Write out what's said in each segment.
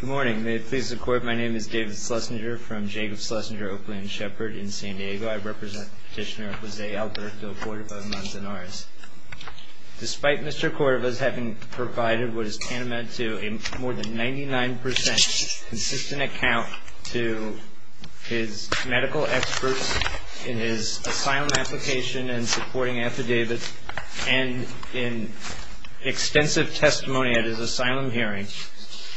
Good morning. May it please the Court, my name is David Schlesinger from Jacob Schlesinger Oakland Shepherd in San Diego. I represent Petitioner Jose Alberto Cordova-Manzanarez. Despite Mr. Cordova's having provided what is tantamount to a more than 99% consistent account to his medical experts in his asylum application and supporting affidavits, and in extensive testimony at his asylum hearing,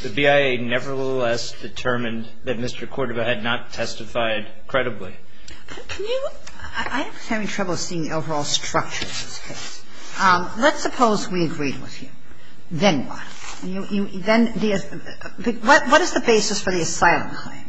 the BIA nevertheless determined that Mr. Cordova had not testified credibly. I'm having trouble seeing the overall structure of this case. Let's suppose we agreed with you. Then what? What is the basis for the asylum claim?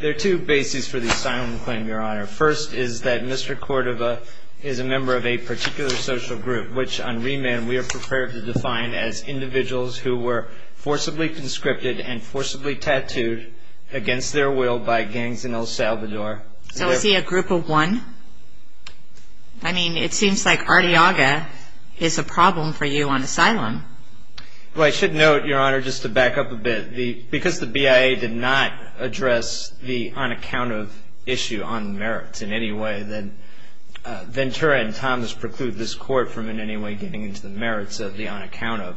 There are two bases for the asylum claim, Your Honor. First is that Mr. Cordova is a member of a particular social group, which on remand we are prepared to define as individuals who were forcibly conscripted and forcibly tattooed against their will by gangs in El Salvador. So is he a group of one? I mean, it seems like Arteaga is a problem for you on asylum. Well, I should note, Your Honor, just to back up a bit, because the BIA did not address the unaccounted issue on merits in any way that Ventura and Thomas preclude this Court from in any way getting into the merits of the unaccounted.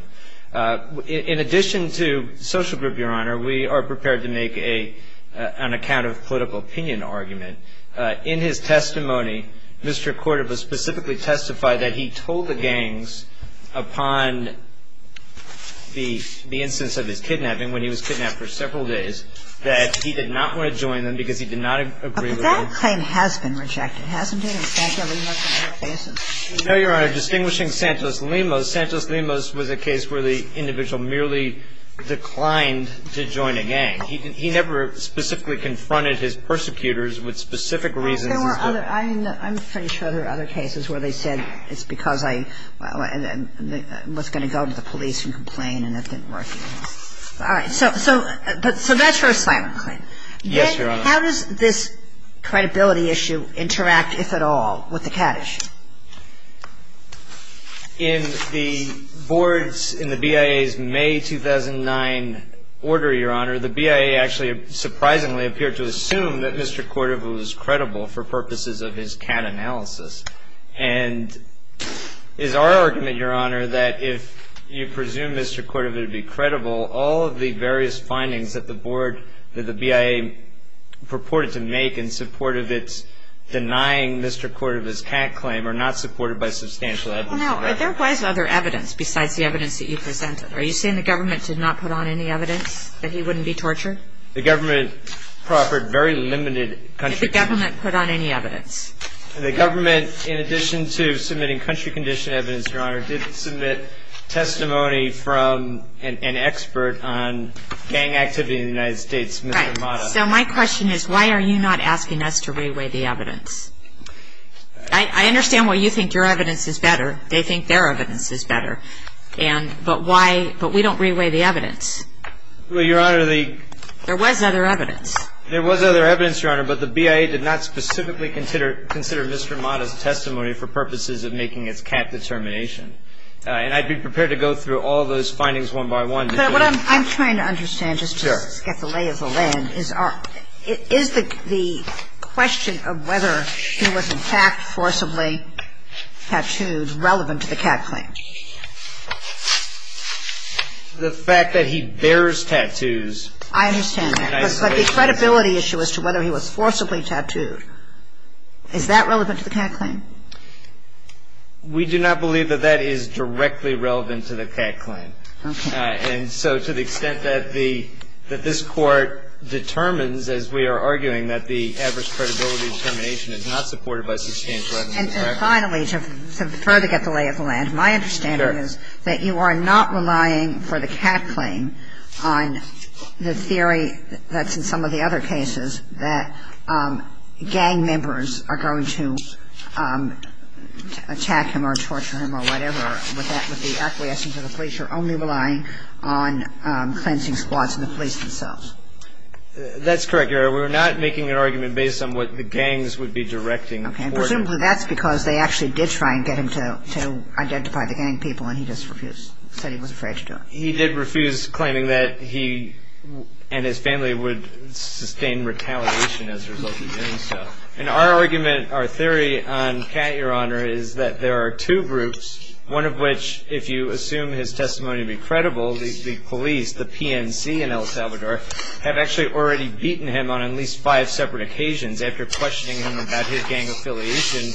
In addition to social group, Your Honor, we are prepared to make an unaccounted political opinion argument. In his testimony, Mr. Cordova specifically testified that he told the gangs upon the instance of his kidnapping, when he was kidnapped for several days, that he did not want to join them because he did not agree with them. But that claim has been rejected, hasn't it, in Santos-Limos and other cases? No, Your Honor. Distinguishing Santos-Limos, Santos-Limos was a case where the individual merely declined to join a gang. He never specifically confronted his persecutors with specific reasons. I'm pretty sure there are other cases where they said it's because I was going to go to the police and complain and it didn't work. All right. So Ventura's silent claim. Yes, Your Honor. How does this credibility issue interact, if at all, with the CAD issue? In the board's, in the BIA's May 2009 order, Your Honor, the BIA actually surprisingly appeared to assume that Mr. Cordova was credible for purposes of his CAD analysis. And it is our argument, Your Honor, that if you presume Mr. Cordova to be credible, all of the various findings that the board, that the BIA purported to make in support of its denying Mr. Cordova's CAD claim are not supported by substantial evidence. Well, now, there was other evidence besides the evidence that you presented. Are you saying the government did not put on any evidence that he wouldn't be tortured? The government proffered very limited country... Did the government put on any evidence? The government, in addition to submitting country condition evidence, Your Honor, did submit testimony from an expert on gang activity in the United States, Mr. Mata. So my question is, why are you not asking us to re-weigh the evidence? I understand why you think your evidence is better. They think their evidence is better. And, but why, but we don't re-weigh the evidence. Well, Your Honor, the... There was other evidence. There was other evidence, Your Honor, but the BIA did not specifically consider Mr. Mata's testimony for purposes of making its CAD determination. And I'd be prepared to go through all those findings one by one. But what I'm trying to understand, just to get the lay of the land, is the question of whether he was in fact forcibly tattooed relevant to the CAD claim. The fact that he bears tattoos... I understand that. But the credibility issue as to whether he was forcibly tattooed, is that relevant to the CAD claim? We do not believe that that is directly relevant to the CAD claim. Okay. And so to the extent that the, that this Court determines, as we are arguing, that the adverse credibility determination is not supported by substantial evidence... And finally, to further get the lay of the land, my understanding is that you are not relying for the CAD claim on the theory that's in some of the other cases, that gang members are going to attack him or torture him or whatever, with the acquiescence of the police. You're only relying on cleansing squads and the police themselves. That's correct, Your Honor. We're not making an argument based on what the gangs would be directing. Okay. Presumably that's because they actually did try and get him to identify the gang people and he just refused, said he was afraid to do it. He did refuse, claiming that he and his family would sustain retaliation as a result of doing so. And our argument, our theory on Kat, Your Honor, is that there are two groups, one of which, if you assume his testimony to be credible, the police, the PNC in El Salvador, have actually already beaten him on at least five separate occasions after questioning him about his gang affiliation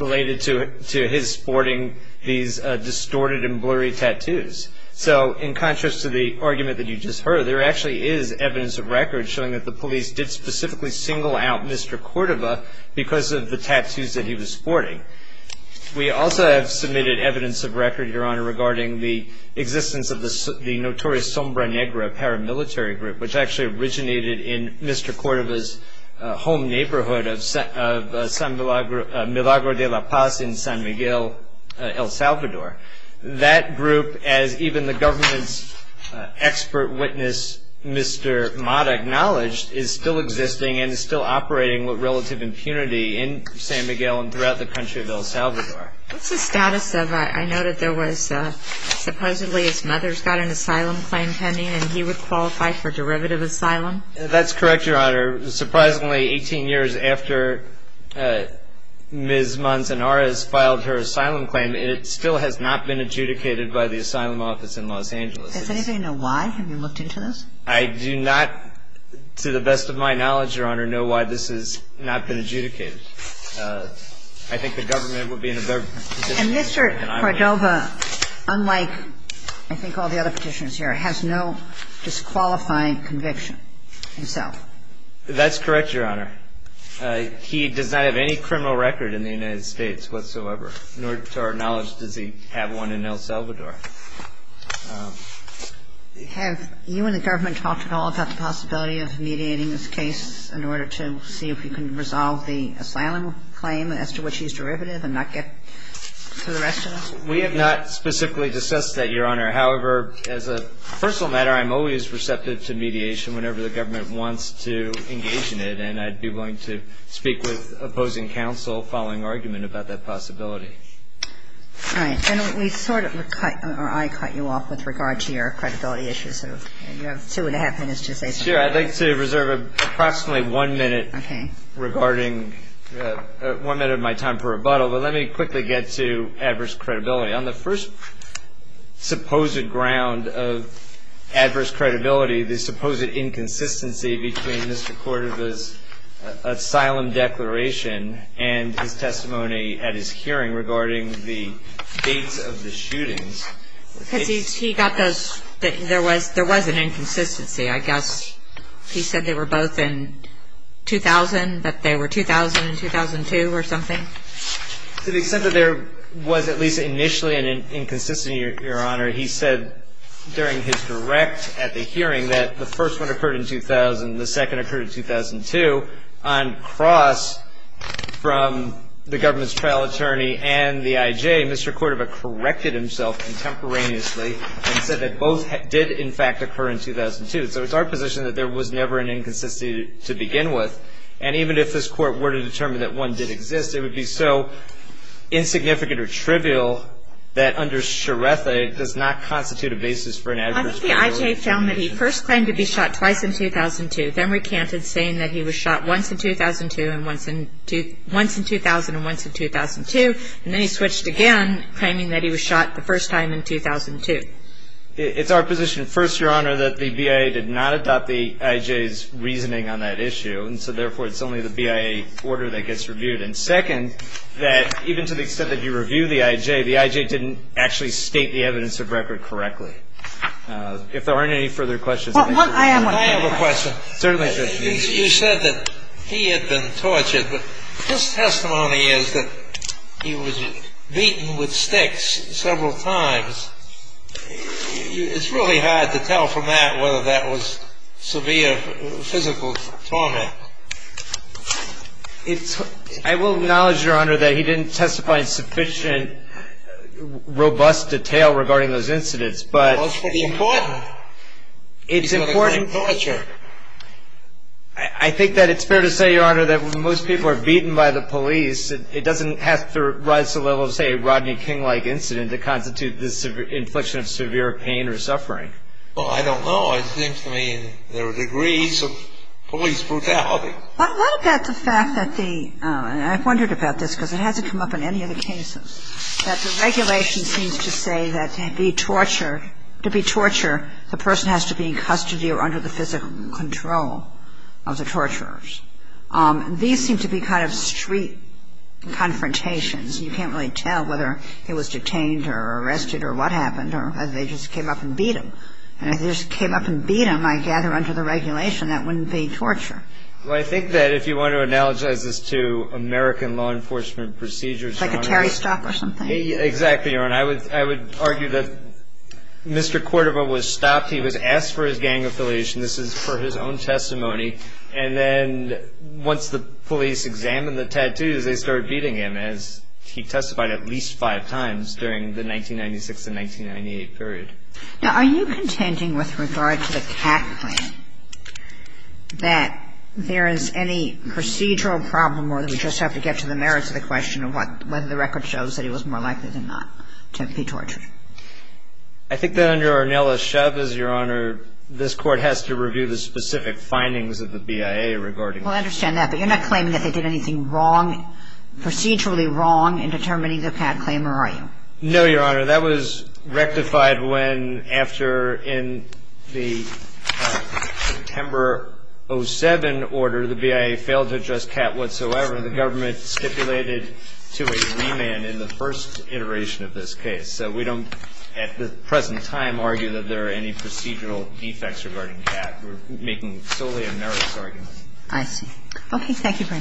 related to his sporting these distorted and blurry tattoos. So in contrast to the argument that you just heard, there actually is evidence of record showing that the police did specifically single out Mr. Córdova because of the tattoos that he was sporting. We also have submitted evidence of record, Your Honor, regarding the existence of the notorious Sombra Negra paramilitary group, which actually originated in Mr. Córdova's home neighborhood of Milagro de la Paz in San Miguel, El Salvador. That group, as even the government's expert witness, Mr. Mata, acknowledged, is still existing and is still operating with relative impunity in San Miguel and throughout the country of El Salvador. What's the status of, I know that there was supposedly his mother's got an asylum claim pending and he would qualify for derivative asylum? That's correct, Your Honor. Surprisingly, 18 years after Ms. Manzanares filed her asylum claim, it still has not been adjudicated by the asylum office in Los Angeles. Does anybody know why? Have you looked into this? I do not, to the best of my knowledge, Your Honor, know why this has not been adjudicated. I think the government would be in a better position to do it than I would. And Mr. Córdova, unlike I think all the other petitioners here, has no disqualifying conviction himself? That's correct, Your Honor. He does not have any criminal record in the United States whatsoever, nor to our knowledge does he have one in El Salvador. Have you and the government talked at all about the possibility of mediating this case in order to see if you can resolve the asylum claim as to which he's derivative and not get to the rest of this? We have not specifically discussed that, Your Honor. However, as a personal matter, I'm always receptive to mediation whenever the government wants to engage in it, and I'd be willing to speak with opposing counsel following argument about that possibility. All right. And we sort of cut, or I cut you off with regard to your credibility issue, so you have two and a half minutes to say something. Sure. I'd like to reserve approximately one minute regarding one minute of my time for rebuttal, but let me quickly get to adverse credibility. On the first supposed ground of adverse credibility, the supposed inconsistency between Mr. Cordova's asylum declaration and his testimony at his hearing regarding the dates of the shootings. Because he got those, there was an inconsistency, I guess. He said they were both in 2000, that they were 2000 and 2002 or something? To the extent that there was at least initially an inconsistency, Your Honor, he said during his direct at the hearing that the first one occurred in 2000, the second occurred in 2002. On cross from the government's trial attorney and the IJ, Mr. Cordova corrected himself contemporaneously and said that both did, in fact, occur in 2002. So it's our position that there was never an inconsistency to begin with. And even if this Court were to determine that one did exist, it would be so insignificant or trivial that under Suretha, it does not constitute a basis for an adverse credibility. Once the IJ found that he first claimed to be shot twice in 2002, then recanted saying that he was shot once in 2000 and once in 2002, and then he switched again, claiming that he was shot the first time in 2002. It's our position, first, Your Honor, that the BIA did not adopt the IJ's reasoning on that issue, and so therefore it's only the BIA order that gets reviewed. And second, that even to the extent that you review the IJ, the IJ didn't actually state the evidence of record correctly. If there aren't any further questions... I have a question. You said that he had been tortured, but his testimony is that he was beaten with sticks several times. It's really hard to tell from that whether that was severe physical torment. I will acknowledge, Your Honor, that he didn't testify in sufficient robust detail regarding those incidents, but... Well, it's pretty important. It's important... He's got a great torture. I think that it's fair to say, Your Honor, that when most people are beaten by the police, it doesn't have to rise to the level of, say, a Rodney King-like incident that constitutes the infliction of severe pain or suffering. Well, I don't know. It seems to me there are degrees of police brutality. What about the fact that the... And I've wondered about this, because it hasn't come up in any of the cases, that the regulation seems to say that to be tortured, the person has to be in custody or under the physical control of the torturers. These seem to be kind of street confrontations. You can't really tell whether he was detained or arrested or what happened, or they just came up and beat him. And if they just came up and beat him, I gather, under the regulation, that wouldn't be torture. Well, I think that if you want to analogize this to American law enforcement procedures, Your Honor... Like a Terry stop or something? Exactly, Your Honor. I would argue that Mr. Cordova was stopped. He was asked for his gang affiliation. This is for his own testimony. And then once the police examined the tattoos, they started beating him, as he testified at least five times during the 1996 and 1998 period. Now, are you contending with regard to the CAC plan, that there is any procedural problem or that we just have to get to the merits of the question of whether the record shows that he was more likely than not to be tortured? This Court has to review the specific findings of the BIA regarding that. Well, I understand that, but you're not claiming that they did anything wrong, procedurally wrong, in determining the CAC claim, are you? No, Your Honor. That was rectified when, after, in the September 07 order, the BIA failed to address CAC whatsoever. The government stipulated to a remand in the first iteration of this case. So we don't, at the present time, argue that there are any procedural defects regarding CAC. We're making solely a merits argument. I see. Okay, thank you very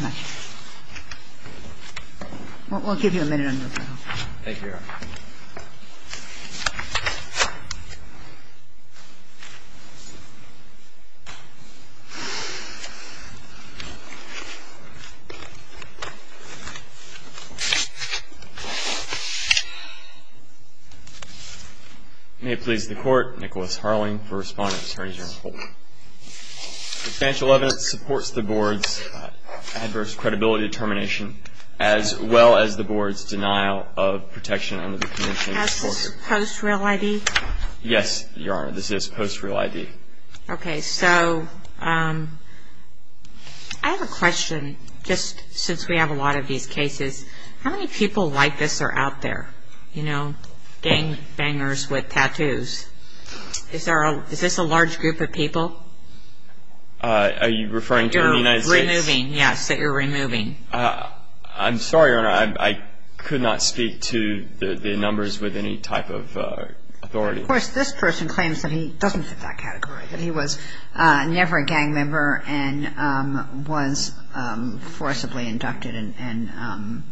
much. We'll give you a minute on your bill. Thank you, Your Honor. May it please the Court, Nicholas Harling for Respondents. The financial evidence supports the Board's adverse credibility determination, as well as the Board's denial of protection under the Commission. Is this a post-real ID? Yes, Your Honor, this is a post-real ID. Okay, so I have a question, just since we have a lot of these cases. How many people like this are out there? You know, gangbangers with tattoos. Is this a large group of people? Are you referring to the United States? That you're removing, yes, that you're removing. I'm sorry, Your Honor, I could not speak to the numbers with any type of authority. Of course, this person claims that he doesn't fit that category, that he was never a gang member and was forcibly inducted and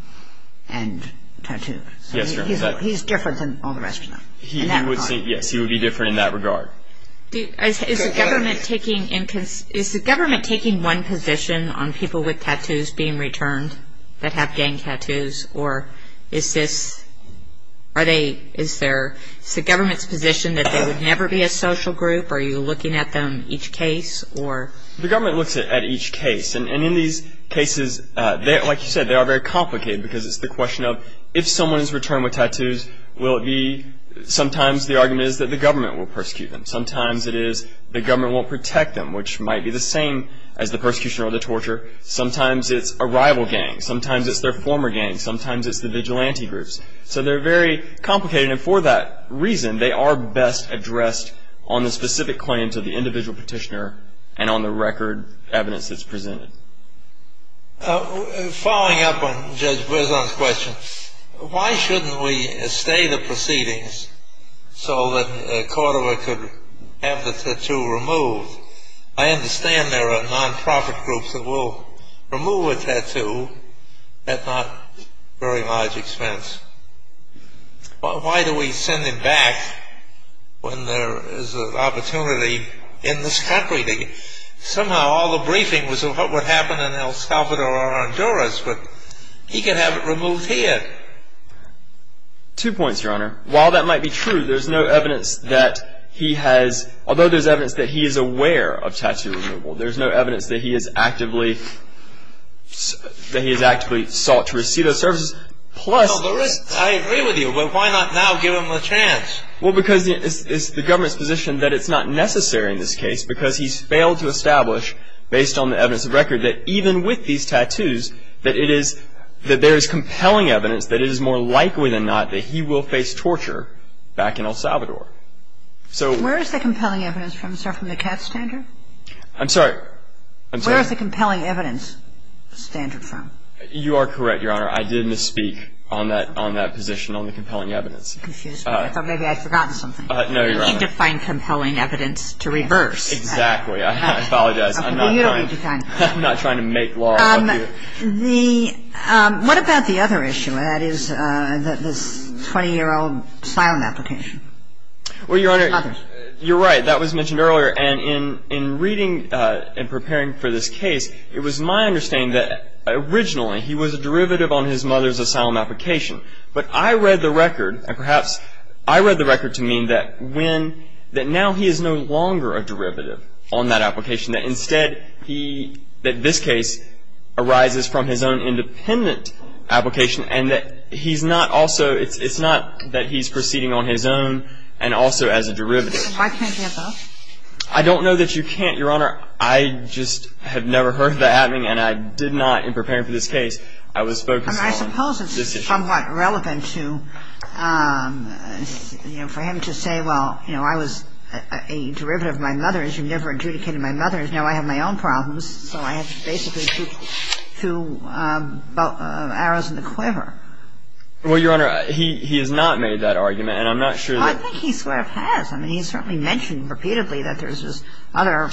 tattooed. Yes, Your Honor. He's different than all the rest of them in that regard. Yes, he would be different in that regard. Is the government taking one position on people with tattoos being returned that have gang tattoos, or is this, are they, is there, is the government's position that they would never be a social group? Are you looking at them each case, or? The government looks at each case, and in these cases, like you said, they are very complicated, because it's the question of, if someone is returned with tattoos, will it be, sometimes the argument is that the government will persecute them. Sometimes it is the government won't protect them, which might be the same as the persecution or the torture. Sometimes it's a rival gang. Sometimes it's their former gang. Sometimes it's the vigilante groups. So they're very complicated, and for that reason, they are best addressed on the specific claims of the individual petitioner and on the record evidence that's presented. Following up on Judge Berzon's question, why shouldn't we stay the proceedings so that Cordova could have the tattoo removed? I understand there are non-profit groups that will remove a tattoo at not very large expense. Why do we send him back when there is an opportunity in this country? Somehow all the briefing was on what would happen in El Salvador or Honduras, but he could have it removed here. Two points, Your Honor. While that might be true, there is no evidence that he has, although there is evidence that he is aware of tattoo removal, there is no evidence that he has actively sought to receive those services. I agree with you, but why not now give him a chance? Well, because it's the government's position that it's not necessary in this case, because he's failed to establish, based on the evidence of record, that even with these tattoos, that there is compelling evidence that it is more likely than not that he will face torture back in El Salvador. Where is the compelling evidence from, sir, from the CAT standard? I'm sorry. Where is the compelling evidence standard from? You are correct, Your Honor. I did misspeak on that position on the compelling evidence. I thought maybe I'd forgotten something. No, Your Honor. You need to find compelling evidence to reverse. Exactly. I apologize. I'm not trying to make law about you. What about the other issue, that is this 20-year-old asylum application? Well, Your Honor, you're right. That was mentioned earlier. And in reading and preparing for this case, it was my understanding that originally he was a derivative on his mother's asylum application. But I read the record, and perhaps I read the record to mean that when, that now he is no longer a derivative on that application, that instead he, that this case arises from his own independent application, and that he's not also, it's not that he's proceeding on his own and also as a derivative. Why can't he have that? I don't know that you can't, Your Honor. I just have never heard that happening, and I did not, in preparing for this case, I was focused on this issue. It's somewhat relevant to, you know, for him to say, well, you know, I was a derivative of my mother's, you never adjudicated my mother's, now I have my own problems. So I have to basically shoot two arrows in the quiver. Well, Your Honor, he has not made that argument, and I'm not sure that. Well, I think he sort of has. I mean, he's certainly mentioned repeatedly that there's this other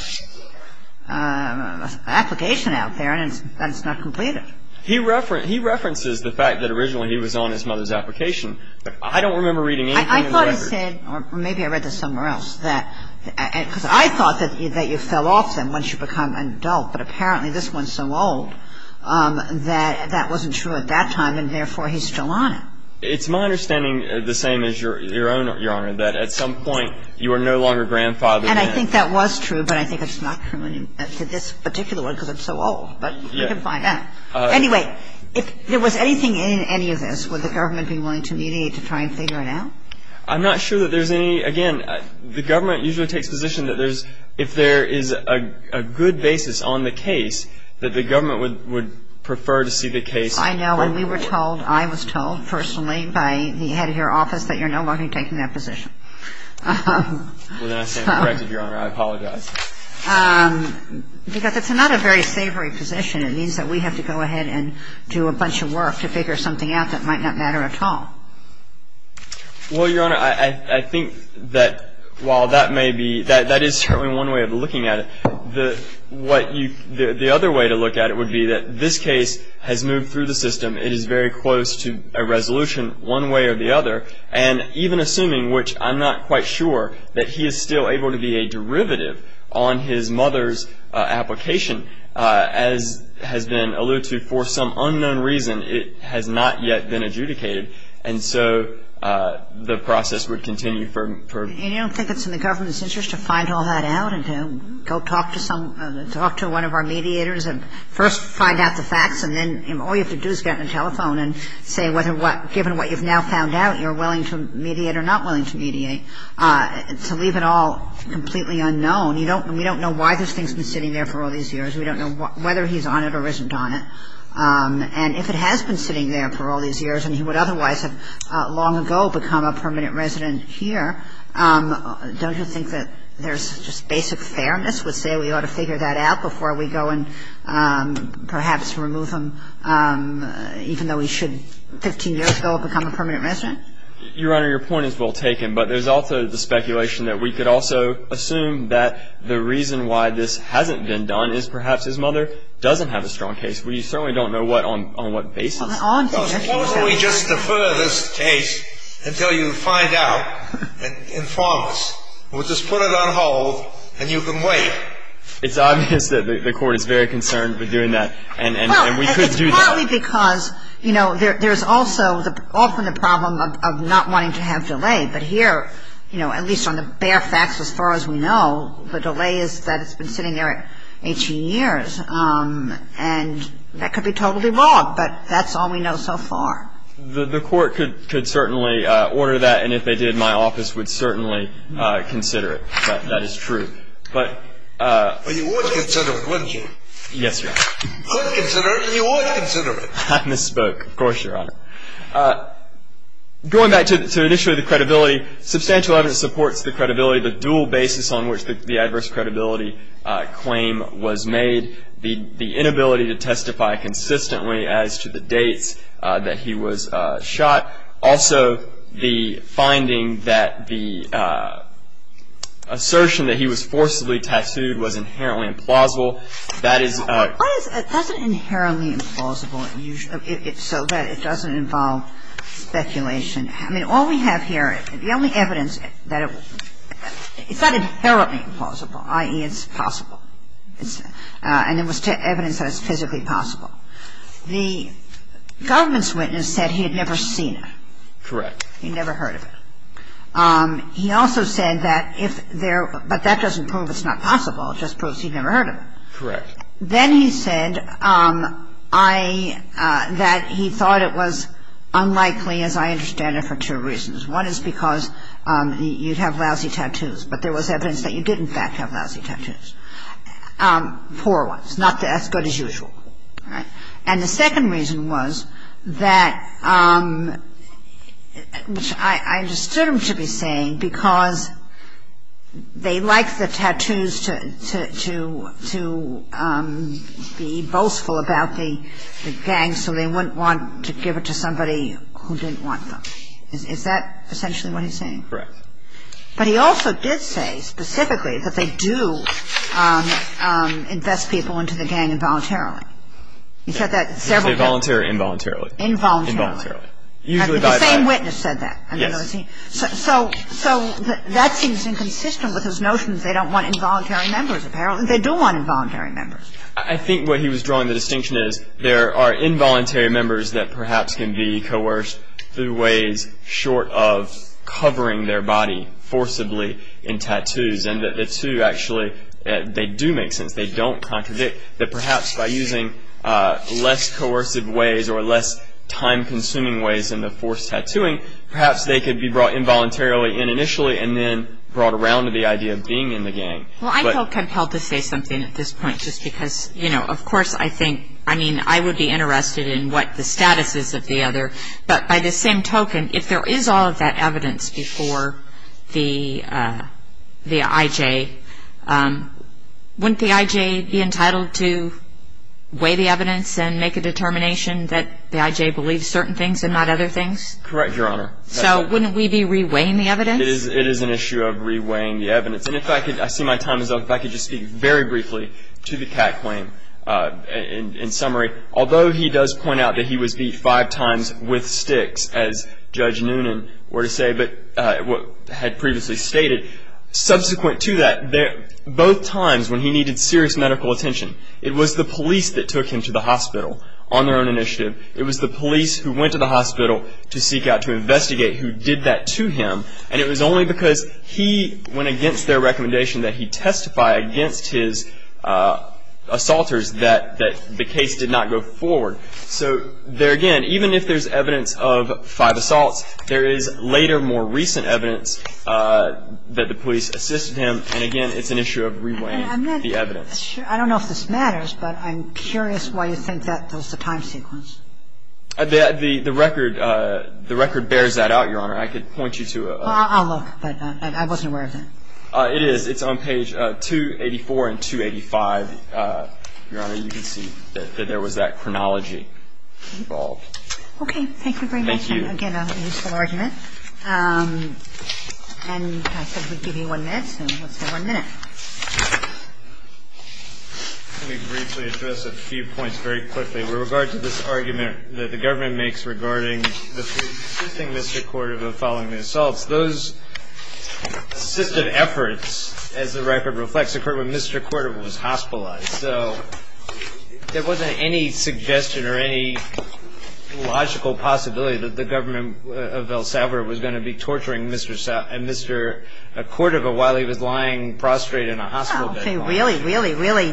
application out there, and that it's not completed. He references the fact that originally he was on his mother's application. I don't remember reading anything in the record. I thought he said, or maybe I read this somewhere else, that, because I thought that you fell off them once you become an adult, but apparently this one's so old that that wasn't true at that time, and therefore he's still on it. It's my understanding the same as your own, Your Honor, that at some point you are no longer grandfathered. And I think that was true, but I think it's not true to this particular one because I'm so old. But we can find out. Anyway, if there was anything in any of this, would the government be willing to mediate to try and figure it out? I'm not sure that there's any. Again, the government usually takes position that there's, if there is a good basis on the case, that the government would prefer to see the case. I know. When we were told, I was told personally by the head of your office that you're no longer taking that position. Well, then I say I'm correct, Your Honor. I apologize. Because it's not a very savory position. It means that we have to go ahead and do a bunch of work to figure something out that might not matter at all. Well, Your Honor, I think that while that may be, that is certainly one way of looking at it. The other way to look at it would be that this case has moved through the system. It is very close to a resolution one way or the other. And even assuming, which I'm not quite sure, that he is still able to be a derivative on his mother's application as has been alluded to for some unknown reason, it has not yet been adjudicated. And so the process would continue for... And you don't think it's in the government's interest to find all that out and to go talk to some, talk to one of our mediators and first find out the facts and then all you have to do is get on the telephone and say whether what, given what you've now found out, you're willing to mediate or not willing to mediate. To leave it all completely unknown. We don't know why this thing's been sitting there for all these years. We don't know whether he's on it or isn't on it. And if it has been sitting there for all these years and he would otherwise have long ago become a permanent resident here, don't you think that there's just basic fairness would say we ought to figure that out before we go and perhaps remove him, even though he should 15 years ago have become a permanent resident? Your Honor, your point is well taken, but there's also the speculation that we could also assume that the reason why this hasn't been done is perhaps his mother doesn't have a strong case. We certainly don't know what, on what basis. Why don't we just defer this case until you find out and inform us. We'll just put it on hold and you can wait. It's obvious that the court is very concerned with doing that and we couldn't do that. It's partly because, you know, there's also often the problem of not wanting to have delay, but here, you know, at least on the bare facts as far as we know, the delay is that it's been sitting there 18 years and that could be totally wrong, but that's all we know so far. The court could certainly order that and if they did, my office would certainly consider it, that is true. But you would consider it, wouldn't you? Yes, Your Honor. You would consider it? I misspoke, of course, Your Honor. Going back to initially the credibility, substantial evidence supports the credibility, the dual basis on which the adverse credibility claim was made, the inability to testify consistently as to the dates that he was shot, also the finding that the assertion that he was forcibly tattooed was inherently implausible. That is... What is, that's an inherently implausible, so that it doesn't involve speculation. I mean, all we have here, the only evidence that it, it's not inherently implausible, i.e. it's possible. And it was evidence that it's physically possible. The government's witness said he had never seen it. Correct. He'd never heard of it. He also said that if there, but that doesn't prove it's not possible, it just proves he'd never heard of it. Correct. Then he said I, that he thought it was unlikely, as I understand it, for two reasons. One is because you'd have lousy tattoos, but there was evidence that you did, in fact, have lousy tattoos. Poor ones, not as good as usual. And the second reason was that, which I understood him to be saying, because they like the tattoos to be boastful about the gang, so they wouldn't want to give it to somebody who didn't want them. Is that essentially what he's saying? Correct. But he also did say, specifically, that they do invest people into the gang involuntarily. He said that several times. They volunteer involuntarily. Involuntarily. Involuntarily. Usually by... The same witness said that. Yes. So that seems inconsistent with his notion that they don't want involuntary members, apparently. They do want involuntary members. I think what he was drawing the distinction is there are involuntary members that perhaps can be coerced through ways short of covering their body forcibly in tattoos. And the two actually, they do make sense. They don't contradict that perhaps by using less coercive ways or less time-consuming ways in the forced tattooing, perhaps they could be brought involuntarily in initially and then brought around to the idea of being in the gang. Well, I feel compelled to say something at this point just because, you know, of course I think, I mean, I would be interested in what the status is of the other, but by the same token, if there is all of that evidence before the IJ, wouldn't the IJ be entitled to weigh the evidence and make a determination that the IJ believes certain things and not other things? Correct, Your Honor. So wouldn't we be re-weighing the evidence? It is an issue of re-weighing the evidence. And if I could, I see my time is up. If I could just speak very briefly to the Kat claim in summary. Although he does point out that he was beat five times with sticks, as Judge Noonan were to say, but had previously stated, subsequent to that, both times when he needed serious medical attention, it was the police that took him to the hospital on their own initiative. It was the police who went to the hospital to seek out, to investigate, who did that to him. And it was only because he went against their recommendation that he testify against his assaulters that the case did not go forward. So there again, even if there's evidence of five assaults, there is later, more recent evidence that the police assisted him. And again, it's an issue of re-weighing the evidence. I don't know if this matters, but I'm curious why you think that was the time sequence. The record bears that out, Your Honor. I could point you to a – Well, I'll look. I wasn't aware of that. It is. It's on page 284 and 285, Your Honor. You can see that there was that chronology involved. Okay. Thank you very much. Thank you. And again, a useful argument. And I said we'd give you one minute, so let's have one minute. Let me briefly address a few points very quickly. With regard to this argument that the government makes regarding the assisting Mr. Cordova following the assaults, those assisted efforts, as the record reflects, occurred when Mr. Cordova was hospitalized. So there wasn't any suggestion or any logical possibility that the government of El Salvador was going to be torturing Mr. Cordova while he was lying prostrate in a hospital bed. Well, if they really, really, really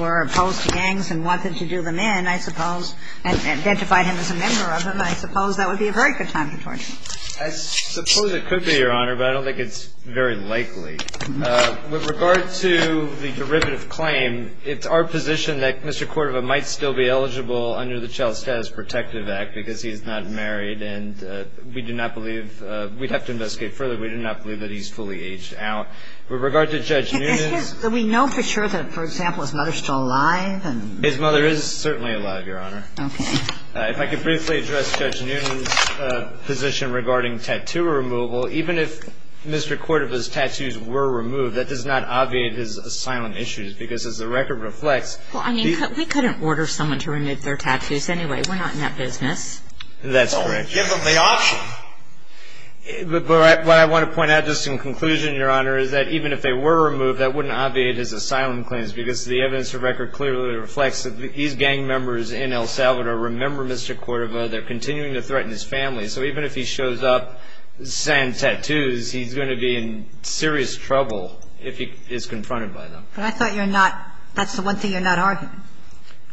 were opposed to gangs and wanted to do them in, I suppose, and identified him as a member of them, I suppose that would be a very good time to torture him. I suppose it could be, Your Honor, but I don't think it's very likely. With regard to the derivative claim, it's our position that Mr. Cordova might still be eligible under the Child Status Protective Act because he is not married. And we do not believe – we'd have to investigate further. We do not believe that he's fully aged out. With regard to Judge Noonan's – We know for sure that, for example, his mother's still alive? His mother is certainly alive, Your Honor. Okay. If I could briefly address Judge Noonan's position regarding tattoo removal. Even if Mr. Cordova's tattoos were removed, that does not obviate his asylum issues because, as the record reflects – Well, I mean, we couldn't order someone to remove their tattoos anyway. We're not in that business. That's correct. Well, we give them the option. But what I want to point out, just in conclusion, Your Honor, is that even if they were removed, that wouldn't obviate his asylum claims because the evidence of record clearly reflects that these gang members in El Salvador remember Mr. Cordova. They're continuing to threaten his family. So even if he shows up saying tattoos, he's going to be in serious trouble if he is confronted by them. But I thought you're not – that's the one thing you're not arguing,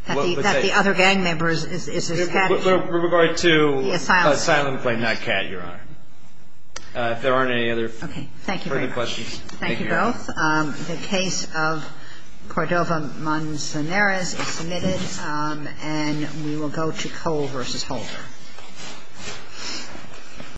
that the other gang members is his family. With regard to – The asylum claim. The asylum claim, not Kat, Your Honor. If there aren't any other further questions. Okay. Thank you very much. Thank you both. The case of Cordova-Monsaneris is submitted. And we will go to Cole v. Holder.